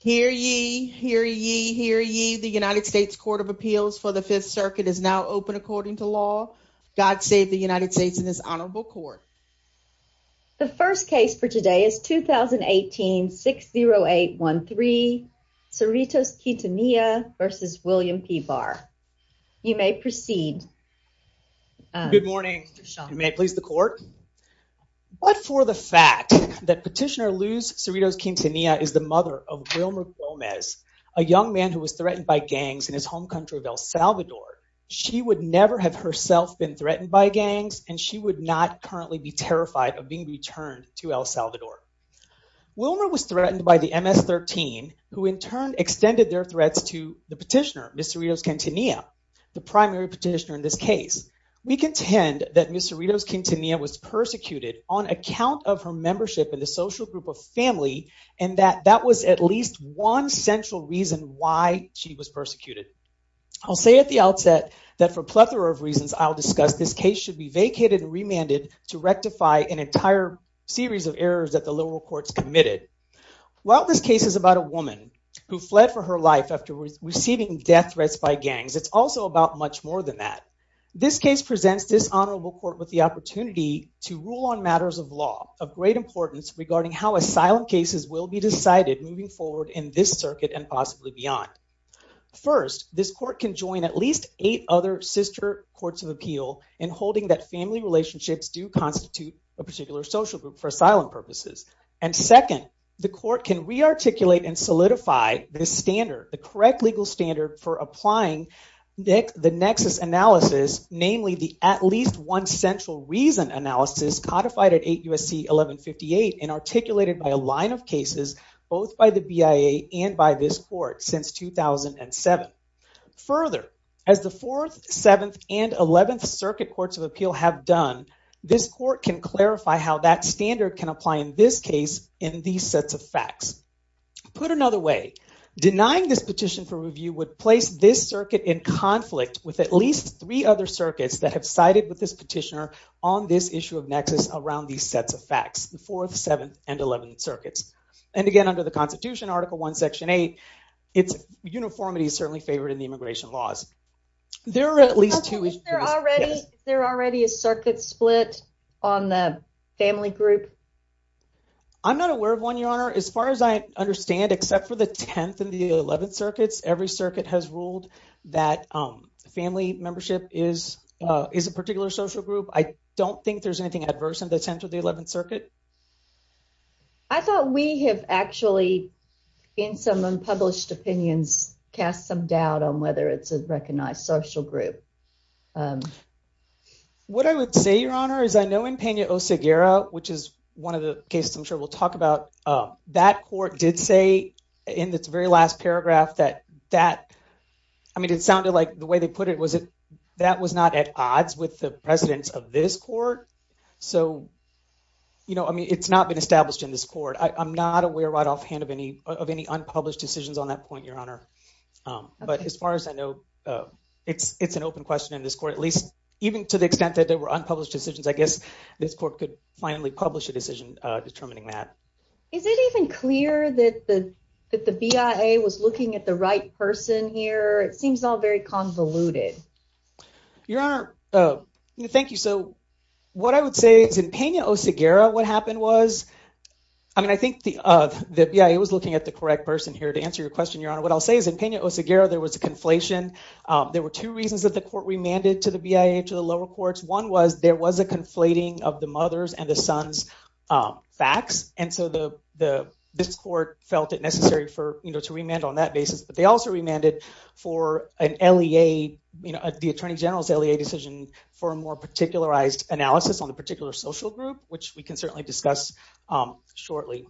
Hear ye, hear ye, hear ye, the United States Court of Appeals for the Fifth Circuit is now open according to law. God save the United States in this honorable court. The first case for today is 2018-60813 Cerritos-Quintanilla versus William P. Barr. You may proceed. Good morning. You may please the court. But for the fact that petitioner Luz Cerritos-Quintanilla is the mother of Wilmer Gomez, a young man who was threatened by gangs in his home country of El Salvador, she would never have herself been threatened by gangs and she would not currently be terrified of being returned to El Salvador. Wilmer was threatened by the MS-13 who in turn extended their threats to the petitioner, Ms. Cerritos-Quintanilla, the primary petitioner in this case. We intend that Ms. Cerritos-Quintanilla was persecuted on account of her membership in the social group of family and that that was at least one central reason why she was persecuted. I'll say at the outset that for a plethora of reasons I'll discuss, this case should be vacated and remanded to rectify an entire series of errors that the liberal courts committed. While this case is about a woman who fled for her life after receiving death threats by gangs, it's also about much more than that. This case presents this honorable court with the opportunity to rule on matters of law of great importance regarding how asylum cases will be decided moving forward in this circuit and possibly beyond. First, this court can join at least eight other sister courts of appeal in holding that family relationships do constitute a particular social group for asylum purposes. And second, the court can rearticulate and solidify this standard, the correct legal standard for applying the nexus analysis, namely the at least one central reason analysis codified at 8 U.S.C. 1158 and articulated by a line of cases both by the BIA and by this court since 2007. Further, as the fourth, seventh, and eleventh circuit courts of appeal have done, this court can clarify how that standard can apply in this case in these sets of facts. Put another way, denying this petition for review would place this circuit in conflict with at least three other circuits that have sided with this petitioner on this issue of nexus around these sets of facts, the fourth, seventh, and eleventh circuits. And again, under the Constitution, Article 1, Section 8, its uniformity is certainly favored in the immigration laws. There are at least two issues. Is there already a circuit split on the family group? I'm not aware of one, Your Honor. As far as I understand, except for the tenth and the eleventh circuit, the court has ruled that family membership is a particular social group. I don't think there's anything adverse in the tenth or the eleventh circuit. I thought we have actually, in some unpublished opinions, cast some doubt on whether it's a recognized social group. What I would say, Your Honor, is I know in Peña-Oseguera, which is one of the cases I'm sure we'll talk about, that court did say in its very last paragraph that that, I mean, it sounded like the way they put it was it that was not at odds with the precedence of this court. So, you know, I mean, it's not been established in this court. I'm not aware right offhand of any of any unpublished decisions on that point, Your Honor. But as far as I know, it's it's an open question in this court, at least even to the extent that there were unpublished decisions. I guess this court could finally publish a decision determining that. Is it even clear that the that the BIA was looking at the right person here? It seems all very convoluted. Your Honor, thank you. So what I would say is in Peña-Oseguera, what happened was, I mean, I think the BIA was looking at the correct person here. To answer your question, Your Honor, what I'll say is in Peña-Oseguera, there was a conflation. There were two reasons that the court remanded to the BIA, to the lower courts. One was there was a conflating of the mother's and the son's facts. And so the this court felt it necessary for, you know, to remand on that basis. But they also remanded for an LEA, you know, the Attorney General's LEA decision for a more particularized analysis on the particular social group, which we can certainly discuss shortly.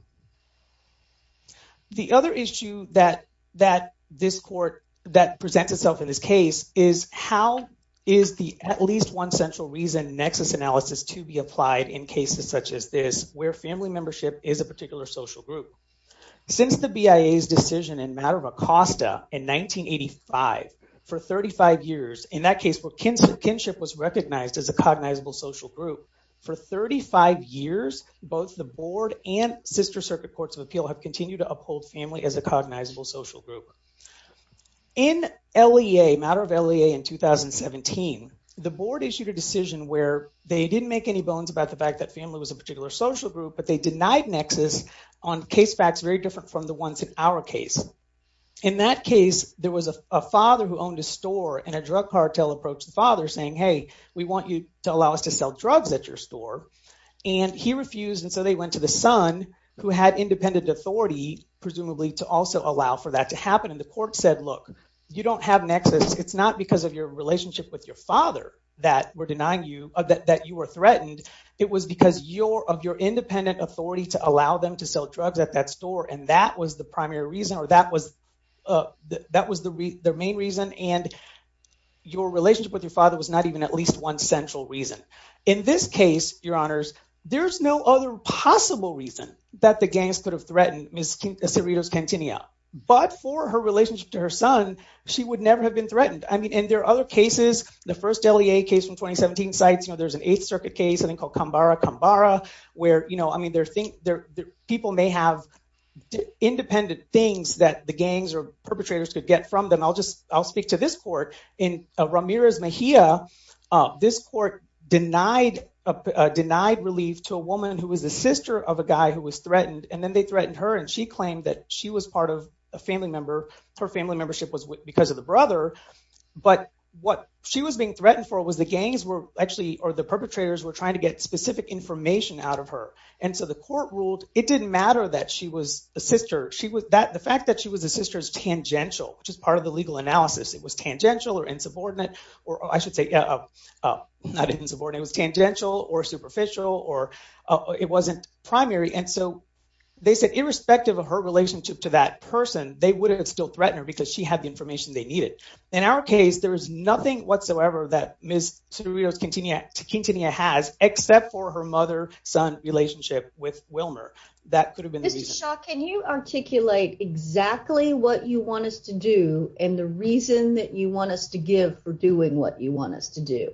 The other issue that that this court that presents itself in this case is how is the at least one central reason nexus analysis to be applied in cases such as this, where family membership is a particular social group. Since the BIA's decision in matter of Acosta in 1985, for 35 years, in that case where kinship was recognized as a cognizable social group, for 35 years, both the board and sister circuit courts of appeal have continued to uphold family as a cognizable social group. In LEA, matter of LEA in 2017, the board issued a decision where they didn't make any bones about the fact that family was a particular social group, but they denied nexus on case facts very different from the ones in our case. In that case, there was a father who owned a store and a drug cartel approached the father saying, hey, we want you to allow us to sell drugs at your store. And he refused, and so they went to the son, who had independent authority, presumably, to also allow for that to happen. And the court said, look, you don't have nexus. It's not because of your relationship with your father that we're denying you, that you were threatened. It was because you're of your independent authority to allow them to sell drugs at that store, and that was the primary reason, or that was, that was the main reason, and your relationship with your father was not even at least one central reason. In this case, Your Honors, there's no other possible reason that the gangs could have threatened Ms. Cerritos-Cantina, but for her relationship to her son, she would never have been threatened. I mean, and there are other cases, the first LEA case from 2017 cites, you know, there's an Eighth Circuit case, something called Cambara-Cambara, where, you know, I mean, people may have independent things that the gangs or perpetrators could get from them. I'll just, I'll speak to this court. In this court, denied relief to a woman who was the sister of a guy who was threatened, and then they threatened her, and she claimed that she was part of a family member. Her family membership was because of the brother, but what she was being threatened for was the gangs were actually, or the perpetrators were trying to get specific information out of her, and so the court ruled it didn't matter that she was a sister. The fact that she was a sister is tangential, which is part of the legal analysis. It was tangential or insubordinate, or I didn't support it, it was tangential or superficial, or it wasn't primary, and so they said irrespective of her relationship to that person, they would have still threatened her because she had the information they needed. In our case, there is nothing whatsoever that Ms. Cerritos-Quintanilla has, except for her mother-son relationship with Wilmer. That could have been the reason. Mr. Shaw, can you articulate exactly what you want us to do, and the reason that you want us to do?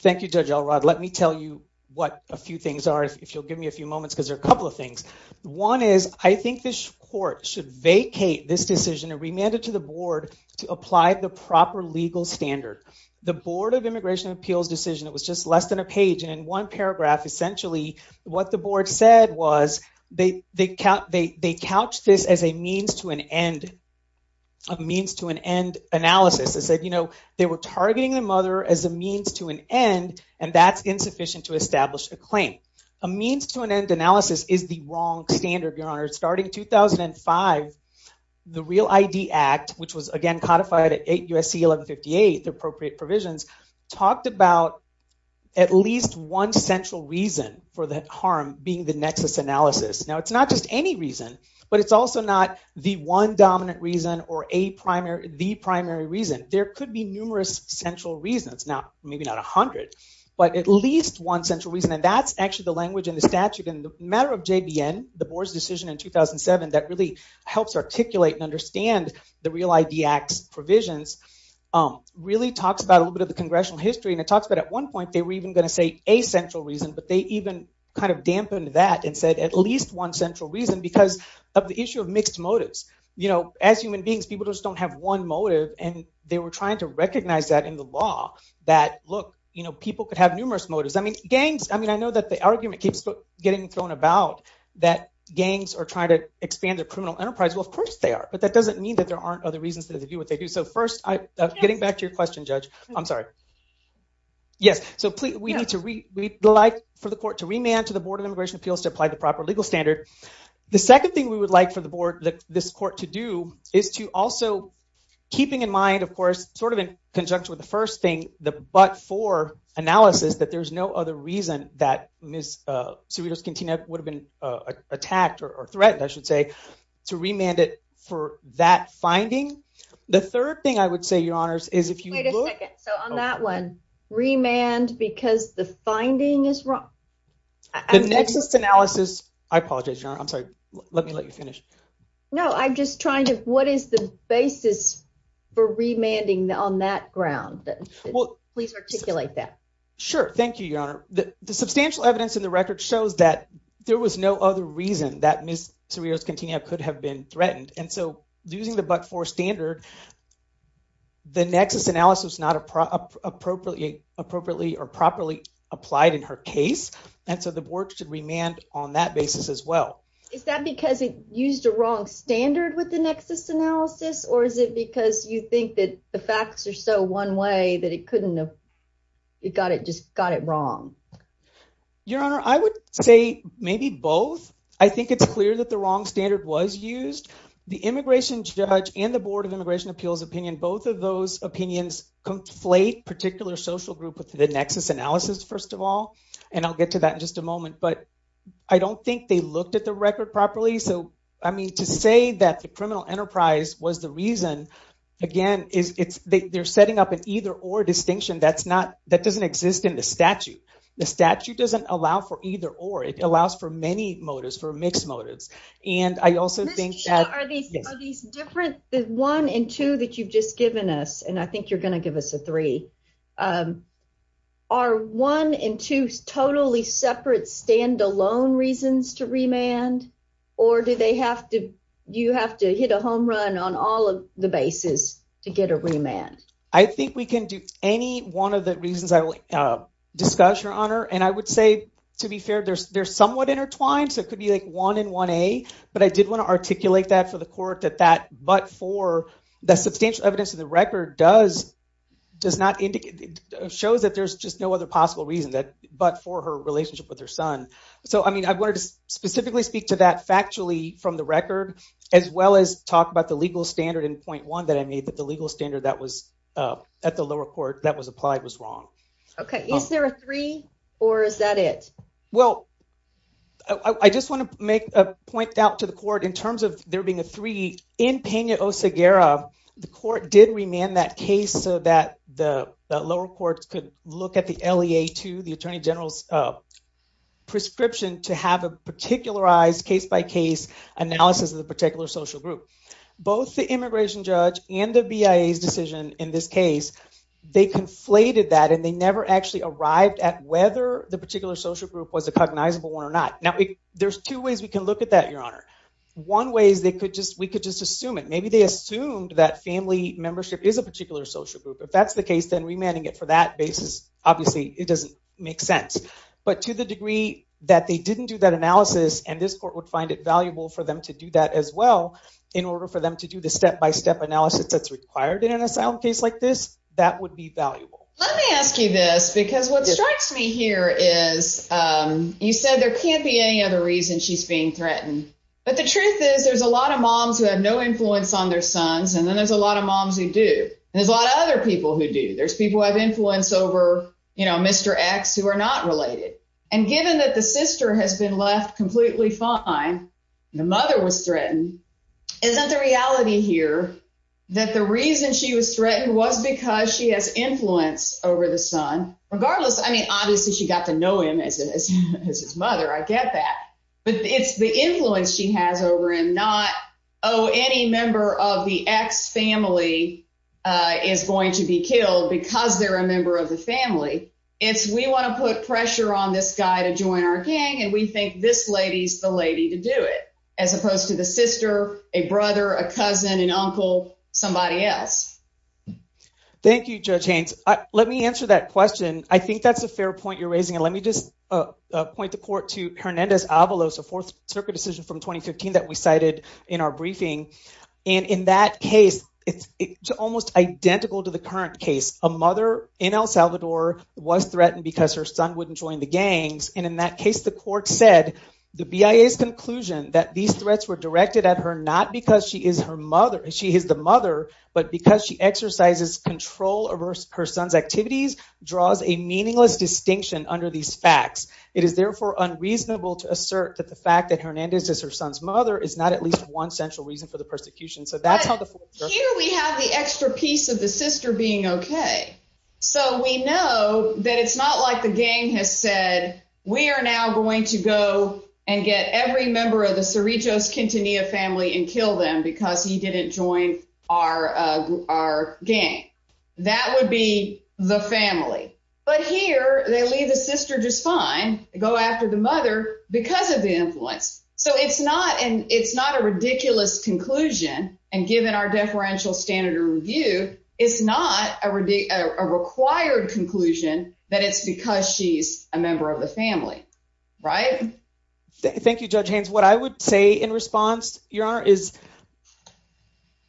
Thank you, Judge Elrod. Let me tell you what a few things are, if you'll give me a few moments, because there are a couple of things. One is, I think this court should vacate this decision and remand it to the board to apply the proper legal standard. The Board of Immigration Appeals decision, it was just less than a page, and in one paragraph, essentially what the board said was, they couched this as a means to an end, a means to an other as a means to an end, and that's insufficient to establish a claim. A means to an end analysis is the wrong standard, your honor. Starting 2005, the REAL ID Act, which was again codified at USC 1158, the appropriate provisions, talked about at least one central reason for the harm being the nexus analysis. Now, it's not just any reason, but it's also not the one dominant reason or a primary reason. There could be numerous central reasons, maybe not a hundred, but at least one central reason, and that's actually the language in the statute in the matter of JBN, the board's decision in 2007 that really helps articulate and understand the REAL ID Act's provisions, really talks about a little bit of the congressional history, and it talks about at one point they were even going to say a central reason, but they even kind of dampened that and said at least one central reason because of the issue of mixed motives. You know, as human beings, people just don't have one motive, and they were trying to recognize that in the law that, look, you know, people could have numerous motives. I mean, gangs, I mean, I know that the argument keeps getting thrown about that gangs are trying to expand their criminal enterprise. Well, of course they are, but that doesn't mean that there aren't other reasons that they do what they do. So first, getting back to your question, Judge, I'm sorry. Yes, so we need to, we'd like for the court to remand to the Board of Immigration Appeals to apply the proper legal standard. The second thing we would like for the board, this court to do, is to also, keeping in mind, of course, sort of in conjunction with the first thing, the but-for analysis, that there's no other reason that Ms. Cerritos-Quintana would have been attacked or threatened, I should say, to remand it for that finding. The third thing I would say, Your Honors, is if you look- Wait a second. So on that one, remand because the finding is wrong. The nexus analysis, I apologize, Your Honor, I'm sorry. Let me let you finish. No, I'm just trying to, what is the basis for remanding on that ground? Please articulate that. Sure, thank you, Your Honor. The substantial evidence in the record shows that there was no other reason that Ms. Cerritos-Quintana could have been threatened, and so using the but-for standard, the nexus analysis not appropriately or properly applied in her case, and so the board should remand on that basis as well. Is that because it used a wrong standard with the nexus analysis, or is it because you think that the facts are so one-way that it couldn't have, it got it, just got it wrong? Your Honor, I would say maybe both. I think it's clear that the wrong standard was used. The immigration judge and the Board of Immigration Appeals opinion, both of those opinions conflate particular social group with the nexus analysis, first of all, and I'll get to that in just a moment, but I don't think they looked at the record properly. So, I mean, to say that the criminal enterprise was the reason, again, they're setting up an either-or distinction that's not, that doesn't exist in the statute. The statute doesn't allow for either-or. It allows for many motives, for mixed motives, and I also think that... Are these different, the one and two that you've just given us, and I think you're going to give us a three, are one and two totally separate stand-alone reasons to remand, or do they have to, you have to hit a home run on all of the bases to get a remand? I think we can do any one of the reasons I will discuss, Your Honor, and I would say, to be fair, they're somewhat intertwined, so it could be like one and 1A, but I did want to articulate that for the court that that but for, that substantial evidence of the record does, does not indicate, shows that there's just no other possible reason that, but for her relationship with her son. So, I mean, I wanted to specifically speak to that factually from the record, as well as talk about the legal standard in point one that I made, that the legal standard that was at the lower court that was applied was wrong. Okay, is there a three, or is that it? Well, I just want to make a point out to the court in terms of there being a three. In Peña Oseguera, the court did remand that case so that the lower courts could look at the LEA-2, the Attorney General's prescription to have a particularized case-by-case analysis of the particular social group. Both the immigration judge and the BIA's decision in this case, they conflated that and they never actually arrived at whether the particular social group was a cognizable one or not. Now, there's two ways we can look at that, Your Honor. One way is they could just, we could just assume it. Maybe they assumed that family membership is a particular social group. If that's the case, then remanding it for that basis, obviously, it doesn't make sense. But to the degree that they didn't do that analysis and this court would find it valuable for them to do that as well, in order for them to do the step-by-step analysis that's required in an asylum case like this, that would be valuable. Let me ask you this, because what strikes me here is you said there can't be any other reason she's being threatened, but the truth is there's a lot of moms who have no influence on their sons and then there's a lot of moms who do. There's a lot of other people who do. There's people who have influence over, you know, Mr. X who are not related. And given that the sister has been left completely fine, the mother was threatened, isn't the reality here that the reason she was threatened was because she has influence over the son? Regardless, I mean, obviously she got to know him as his mother, I get that, but it's the influence she has over him, not, oh, any member of the X family is going to be killed because they're a member of the family. It's, we want to put pressure on this guy to join our gang and we think this lady's the lady to do it, as opposed to the sister, a brother, a cousin, an uncle, somebody else. Thank you, Judge Haynes. Let me answer that question. I think that's a fair point you're raising and let me just point the court to Hernandez Avalos, a Fourth Circuit decision from 2015 that we cited in our briefing. And in that case, it's almost identical to the current case. A mother in El Salvador was threatened because her son wouldn't join the gangs and in that case the court said the BIA's conclusion that these threats were directed at her not because she is her mother, she is the mother, but because she exercises control over her son's activities, draws a meaningless distinction under these facts. It is therefore unreasonable to assert that the fact that Hernandez is her son's mother is not at least one central reason for the persecution. So that's how the... Here we have the extra piece of the sister being okay. So we know that it's not like the gang has said, we are now going to go and get every member of the Cerritos Quintanilla family and kill them because he didn't join our gang. That would be the family. But here they leave the sister just fine, go after the mother because of the influence. So it's not and it's not a ridiculous conclusion and given our deferential standard of review, it's not a required conclusion that it's because she's a member of the family, right? Thank you Judge Haynes. What I would say in response, Your Honor, is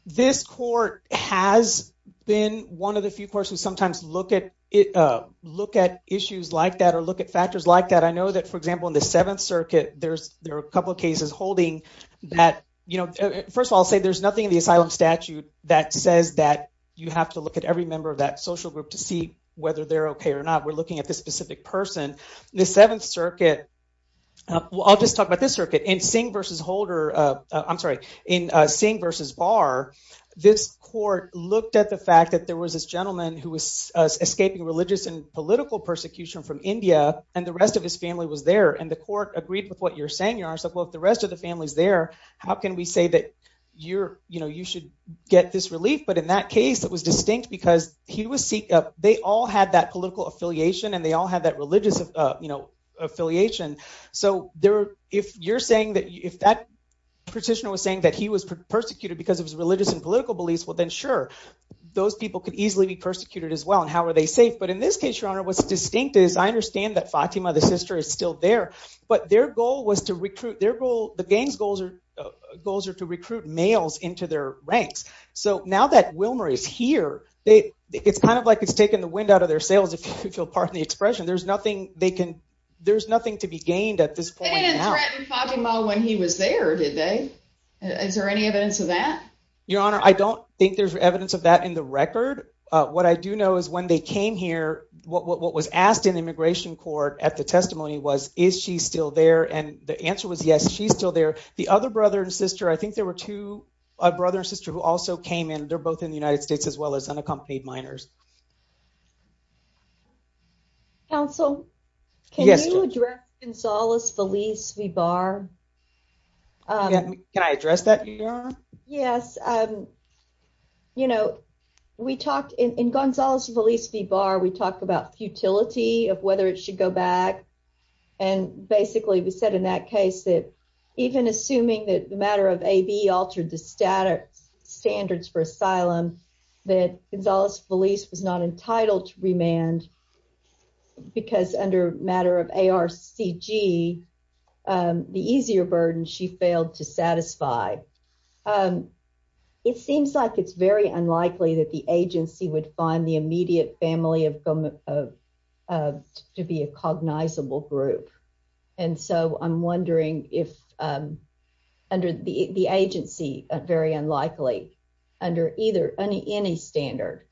this court has been one of the few courts who sometimes look at it look at issues like that or look at factors like that. I know that for example in the Seventh Circuit there's there are a couple of cases holding that, you know, first of all I'll say there's nothing in the asylum statute that says that you have to look at every member of that social group to see whether they're okay or not. We're looking at this specific person. The Seventh Circuit, I'll just talk about this circuit, in Singh versus Holder, I'm sorry, in Singh versus Barr, this court looked at the fact that there was this gentleman who was escaping religious and political persecution from India and the rest of his family was there and the court agreed with what you're saying, Your Honor, so if the rest of the family's there, how can we say that you're, you know, you should get this relief? But in that case it was distinct because he was, they all had that political affiliation and they all had that religious, you know, affiliation, so there if you're saying that if that petitioner was saying that he was persecuted because of his religious and political beliefs, well then sure, those people could easily be persecuted as well and how are they safe? But in this case, Your Honor, what's distinct is I understand that Fatima, the sister, is still there but their goal was to recruit, their goal, the gang's goals are, goals are to recruit males into their ranks. So now that Wilmer is here, they, it's kind of like it's taken the expression, there's nothing they can, there's nothing to be gained at this point. They didn't threaten Fatima when he was there, did they? Is there any evidence of that? Your Honor, I don't think there's evidence of that in the record. What I do know is when they came here, what was asked in immigration court at the testimony was is she still there and the answer was yes, she's still there. The other brother and sister, I think there were two, a brother and sister who also came in, they're both in the United States as well as unaccompanied minors. Counsel, can you address Gonzales Feliz V. Barr? Can I address that, Your Honor? Yes, you know, we talked in Gonzales Feliz V. Barr, we talked about futility of whether it should go back and basically we said in that case that even assuming that the altered the standards for asylum, that Gonzales Feliz was not entitled to remand because under matter of ARCG, the easier burden she failed to satisfy. It seems like it's very unlikely that the agency would find the immediate family to be a cognizable group and so I'm wondering if under the agency, very unlikely under either any standard.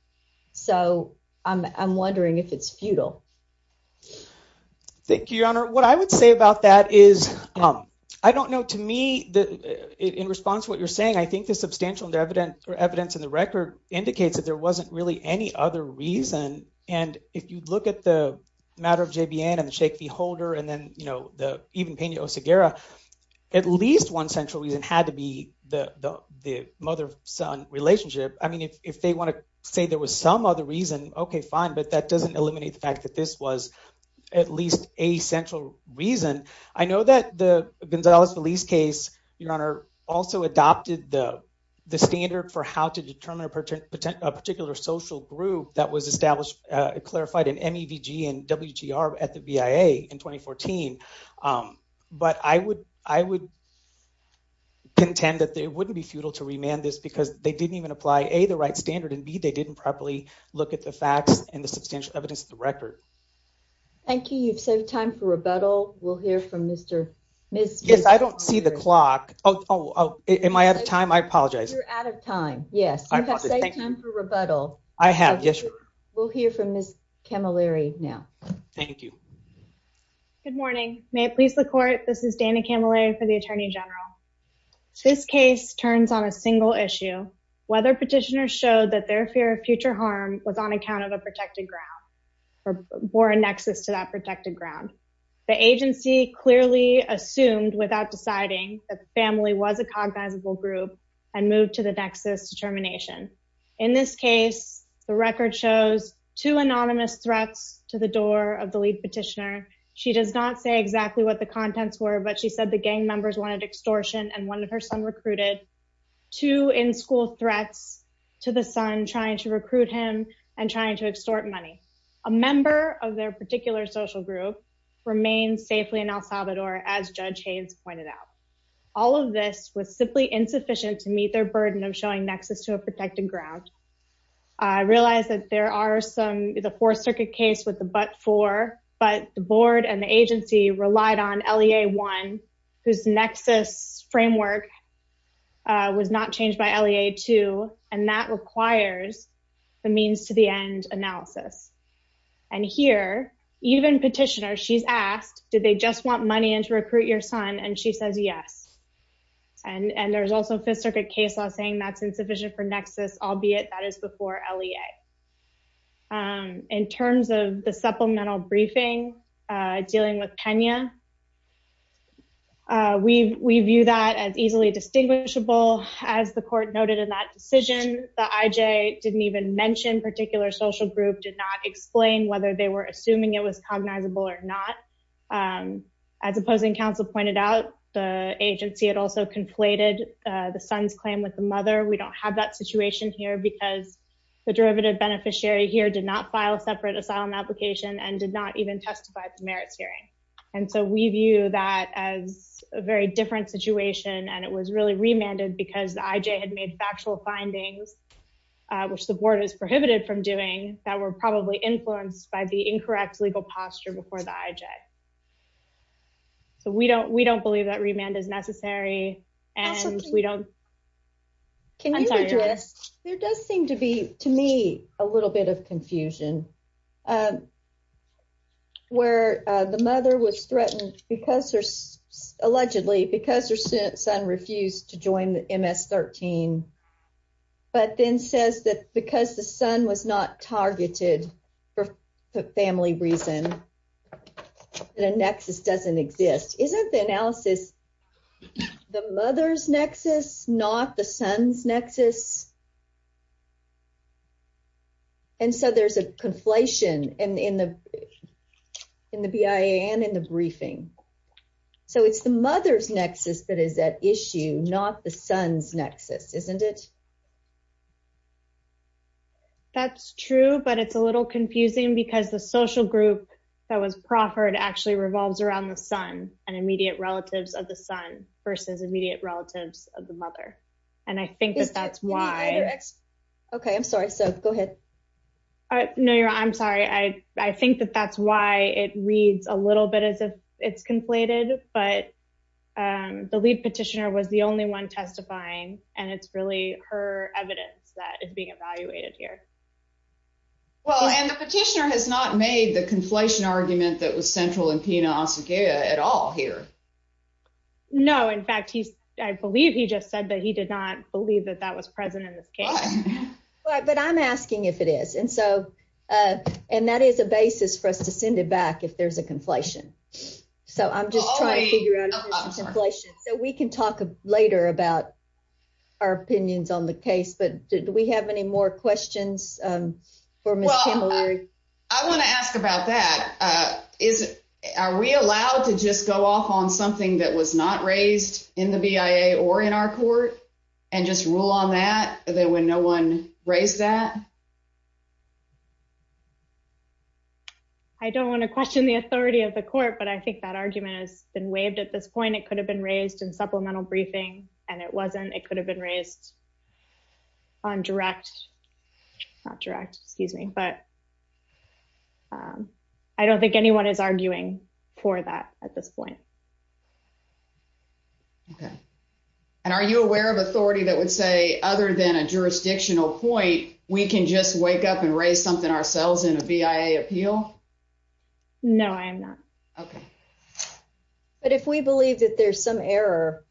So I'm wondering if it's futile. Thank you, Your Honor. What I would say about that is, I don't know, to me, in response to what you're saying, I think the substantial evidence or evidence in the case, and if you look at the matter of JBN and the shake the holder and then, you know, the even Pena Oseguera, at least one central reason had to be the the mother-son relationship. I mean, if they want to say there was some other reason, okay fine, but that doesn't eliminate the fact that this was at least a central reason. I know that the Gonzales Feliz case, Your Honor, also adopted the the standard for how to determine a particular social group that was established, clarified in MEVG and WGR at the BIA in 2014, but I would, I would contend that it wouldn't be futile to remand this because they didn't even apply A, the right standard, and B, they didn't properly look at the facts and the substantial evidence of the record. Thank you. You've saved time for rebuttal. We'll hear from Mr. Yes, I don't see the clock. Oh, am I out of time? I apologize. You're out of time, yes. You've saved time for rebuttal. I have, yes. We'll hear from Ms. Camilleri now. Thank you. Good morning. May it please the court, this is Dana Camilleri for the Attorney General. This case turns on a single issue, whether petitioners showed that their fear of future harm was on account of a protected ground or a nexus to that protected ground. The agency clearly assumed without deciding that the family was a cognizable group and moved to the nexus to termination. In this case, the record shows two anonymous threats to the door of the lead petitioner. She does not say exactly what the contents were, but she said the gang members wanted extortion and one of her son recruited two in-school threats to the son trying to recruit him and trying to extort money. A member of their particular social group remained safely in El as Judge Haynes pointed out. All of this was simply insufficient to meet their burden of showing nexus to a protected ground. I realize that there are some, the Fourth Circuit case with the but-for, but the board and the agency relied on LEA 1, whose nexus framework was not changed by LEA 2, and that requires the means to the end analysis. And here, even petitioners, she's asked, did they just want money in to recruit your son? And she says yes. And there's also Fifth Circuit case law saying that's insufficient for nexus, albeit that is before LEA. In terms of the supplemental briefing, dealing with Kenya, we view that as easily distinguishable. As the court noted in that decision, the IJ didn't even mention particular social group, did not explain whether they were As opposing counsel pointed out, the agency had also conflated the son's claim with the mother. We don't have that situation here because the derivative beneficiary here did not file a separate asylum application and did not even testify at the merits hearing. And so we view that as a very different situation, and it was really remanded because the IJ had made factual findings, which the board is prohibited from doing, that were probably influenced by the incorrect legal posture before the IJ. So we don't, we don't believe that remand is necessary. And we don't Can you address, there does seem to be to me a little bit of confusion. Where the mother was threatened, because there's allegedly because her son refused to join the MS-13. But then says that because the son was not targeted for family reason, and a nexus doesn't exist. Isn't the analysis, the mother's nexus, not the son's nexus? And so there's a conflation in the BIA and in the briefing. So it's the mother's nexus that is at issue, not the son's nexus, isn't it? That's true, but it's a little confusing because the social group that was proffered actually revolves around the son and immediate relatives of the son versus immediate relatives of the mother. And I think that that's why. Okay, I'm sorry. So go ahead. No, you're I'm sorry. I think that that's why it reads a little bit as if it's conflated. But the lead petitioner was the only one testifying, and it's really her evidence that is being evaluated here. Well, and the petitioner has not made the conflation argument that was central in Pena-Osagiea at all here. No, in fact, he's, I believe he just said that he did not believe that that was present in this case. But I'm asking if it is. And so, and that is a basis for us to send it back if there's a conflation. So I'm just trying to figure out a conflation so we can talk later about our opinions on the case. But do we have any more questions? I want to ask about that. Is it are we allowed to just go off on something that was not raised in the BIA or in our court and just rule on that there when no one raised that? I don't want to question the authority of the court. But I think that argument has been waived at this point. It could have been raised in supplemental briefing, and it wasn't. It could have been raised on direct, not direct, excuse me, but I don't think anyone is arguing for that at this point. Okay. And are you aware of authority that would say other than a jurisdictional point, we can just wake up and raise something ourselves in a BIA appeal? No, I am not. Okay. But if we believe that there's some error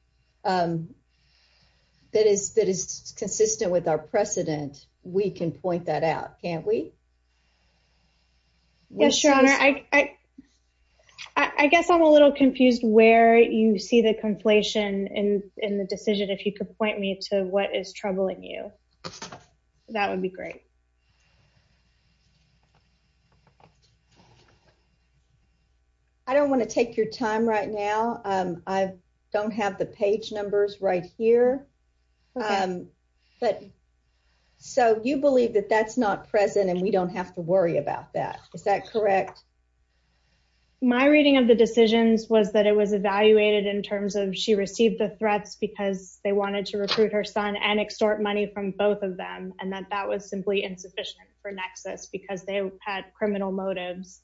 that is that is consistent with our precedent, we can point that out, can't we? Yes, Your Honor. I I guess I'm a little confused where you see the conflation in the decision. If you could point me to what is troubling you, that would be great. I don't want to take your time right now. I don't have the page numbers right here, but so you believe that that's not present, and we don't have to worry about that. Is that correct? My reading of the decisions was that it was evaluated in terms of she received the threats because they wanted to recruit her son and extort money from both of them, and that that was simply inappropriate. Insufficient for Nexus because they had criminal motives,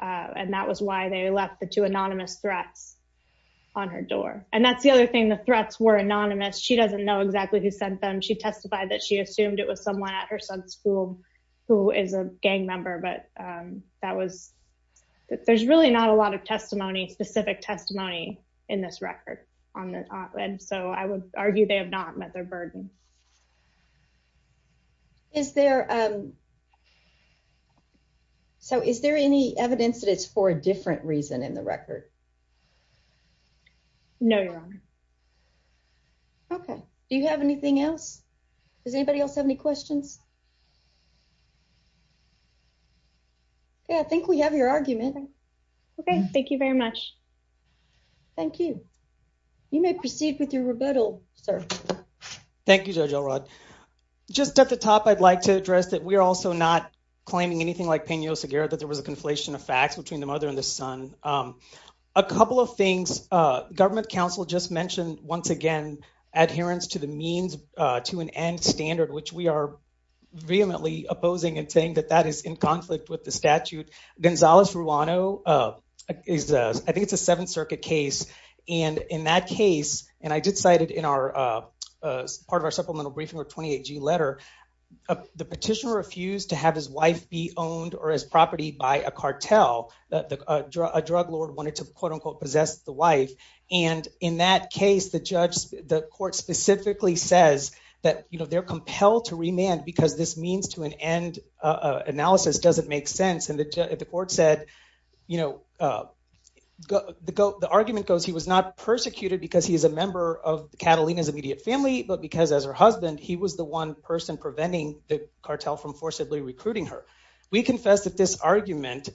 and that was why they left the two anonymous threats on her door. And that's the other thing. The threats were anonymous. She doesn't know exactly who sent them. She testified that she assumed it was someone at her son's school who is a gang member, but that was there's really not a lot of testimony, specific testimony in this record on that. And so I would argue they have not met their burden. Is there, so is there any evidence that it's for a different reason in the record? No, Your Honor. Okay. Do you have anything else? Does anybody else have any questions? Yeah, I think we have your argument. Okay. Thank you very much. Thank you, Judge Elrod. Just at the top, I'd like to address that we're also not claiming anything like Peña Oseguera, that there was a conflation of facts between the mother and the son. A couple of things. Government counsel just mentioned once again, adherence to the means to an end standard, which we are vehemently opposing and saying that that is in conflict with the statute. Gonzales Ruano is, I think it's a Seventh Circuit case, and in that case, and I did cite it in our, part of our supplemental briefing or 28G letter, the petitioner refused to have his wife be owned or his property by a cartel. A drug lord wanted to quote-unquote possess the wife. And in that case, the judge, the court specifically says that, you know, they're compelled to remand because this means to an end analysis doesn't make sense. And the court said, you know, the argument goes he was not persecuted because he is a member of Catalina's immediate family, but because as her husband, he was the one person preventing the cartel from forcibly recruiting her. We confess that this argument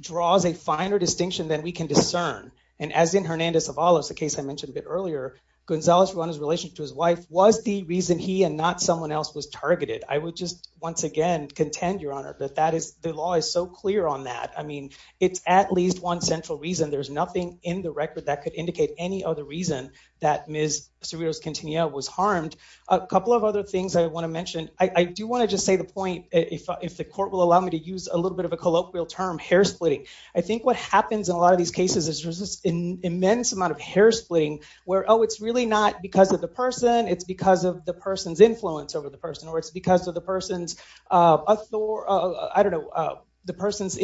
draws a finer distinction than we can discern. And as in Hernandez-Avalos, the case I mentioned a bit earlier, Gonzales Ruano's relationship to his wife was the reason he and not someone else was targeted. I would just once again contend, Your Honor, that that is, the law is so clear on that. I mean, it's at least one central reason. There's nothing in the record that could be the reason that Ms. Cerritos-Quintanilla was harmed. A couple of other things I want to mention. I do want to just say the point, if the court will allow me to use a little bit of a colloquial term, hair splitting. I think what happens in a lot of these cases is there's this immense amount of hair splitting where, oh, it's really not because of the person, it's because of the person's influence over the person, or it's because of the person's, I don't know, the person's,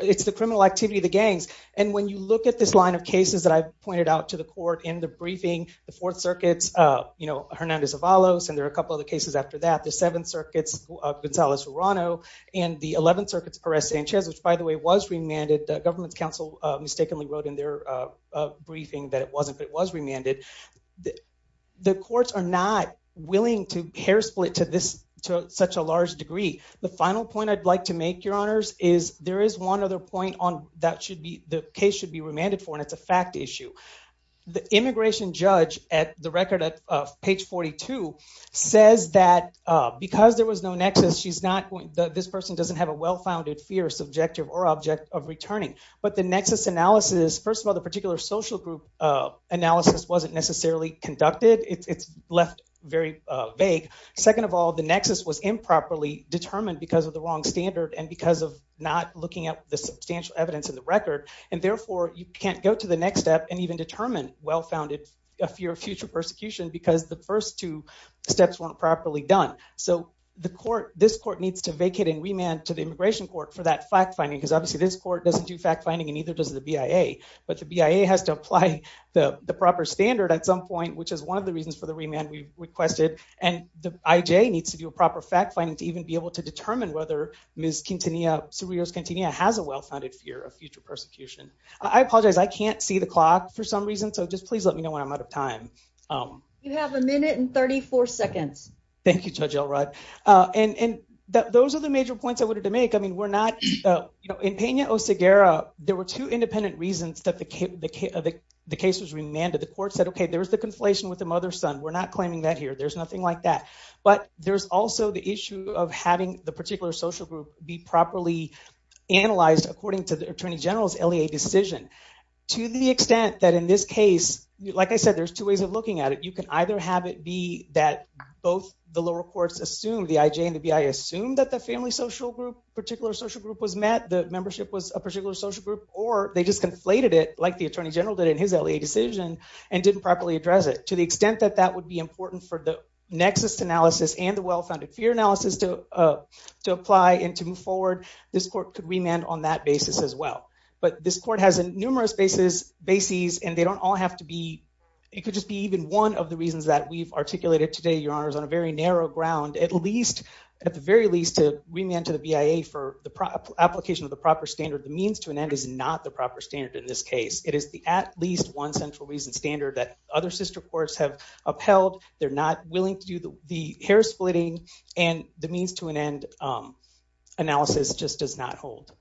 it's the criminal activity of the gangs. And when you look at this line of cases that I've pointed out to the court in the briefing, the Fourth Circuit's, you know, Hernandez-Avalos, and there are a couple of the cases after that. The Seventh Circuit's, Gonzales Ruano, and the Eleventh Circuit's Perez-Sanchez, which by the way was remanded. The government's counsel mistakenly wrote in their briefing that it wasn't, but it was remanded. The courts are not willing to hair split to this, to such a large degree. The final point I'd like to make, Your Honors, is there is one other point that should be, the case should be remanded for, and it's a fact issue. The immigration judge at the record at page 42 says that because there was no nexus, she's not, this person doesn't have a well-founded fear, subjective, or object of returning. But the nexus analysis, first of all, the particular social group analysis wasn't necessarily conducted. It's left very vague. Second of all, the nexus was improperly determined because of the wrong standard and because of not looking at the substantial evidence in the record. And therefore, you can't go to the next step and even determine well-founded fear of future persecution because the first two steps weren't properly done. So the court, this court needs to vacate and remand to the immigration court for that fact-finding, because obviously this court doesn't do fact-finding and neither does the BIA. But the BIA has to apply the proper standard at some point, which is one of the reasons for the remand we requested. And the whether Ms. Quintanilla has a well-founded fear of future persecution. I apologize. I can't see the clock for some reason. So just please let me know when I'm out of time. You have a minute and 34 seconds. Thank you, Judge Elrod. And those are the major points I wanted to make. I mean, we're not, you know, in Peña o Segura, there were two independent reasons that the case was remanded. The court said, okay, there was the conflation with the mother's son. We're not claiming that here. There's nothing like that. But there's also the issue of having the particular social group be properly analyzed according to the Attorney General's LEA decision. To the extent that in this case, like I said, there's two ways of looking at it. You can either have it be that both the lower courts assumed the IJ and the BIA assumed that the family social group, particular social group was met, the membership was a particular social group, or they just conflated it like the Attorney General did in his LEA decision and didn't properly address it. To the extent that that would be important for the nexus analysis and the self-founded fear analysis to apply and to move forward, this court could remand on that basis as well. But this court has numerous bases and they don't all have to be, it could just be even one of the reasons that we've articulated today, Your Honors, on a very narrow ground, at least, at the very least, to remand to the BIA for the application of the proper standard. The means to an end is not the proper standard in this case. It is the at least one central reason standard that other sister courts have upheld. They're not willing to do the hair splitting and the means to an end analysis just does not hold.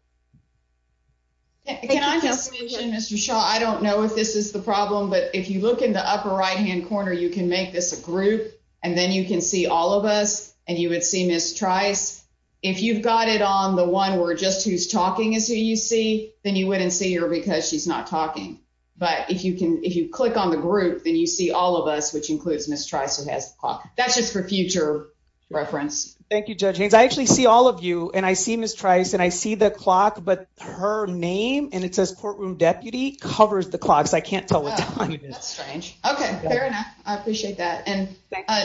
Can I just mention, Mr. Shaw, I don't know if this is the problem, but if you look in the upper right-hand corner, you can make this a group and then you can see all of us and you would see Ms. Trice. If you've got it on the one where just who's talking is who you see, then you wouldn't see her because she's not talking. But if you click on the group, then you see all of us, which includes Ms. Trice, who has the clock. That's just for future reference. Thank you, Judge Haynes. I actually see all of you and I see Ms. Trice and I see the clock, but her name and it says courtroom deputy covers the clock, so I can't tell what time it is. That's strange. Okay, fair enough. I appreciate that. And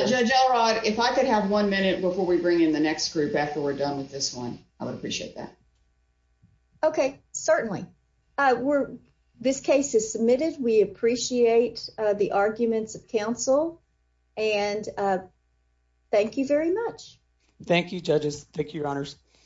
Judge Elrod, if I could have one minute before we bring in the next group after we're done with this one, I would appreciate that. Okay, certainly. This case is submitted. We appreciate the arguments of counsel and thank you very much. Thank you, Judges.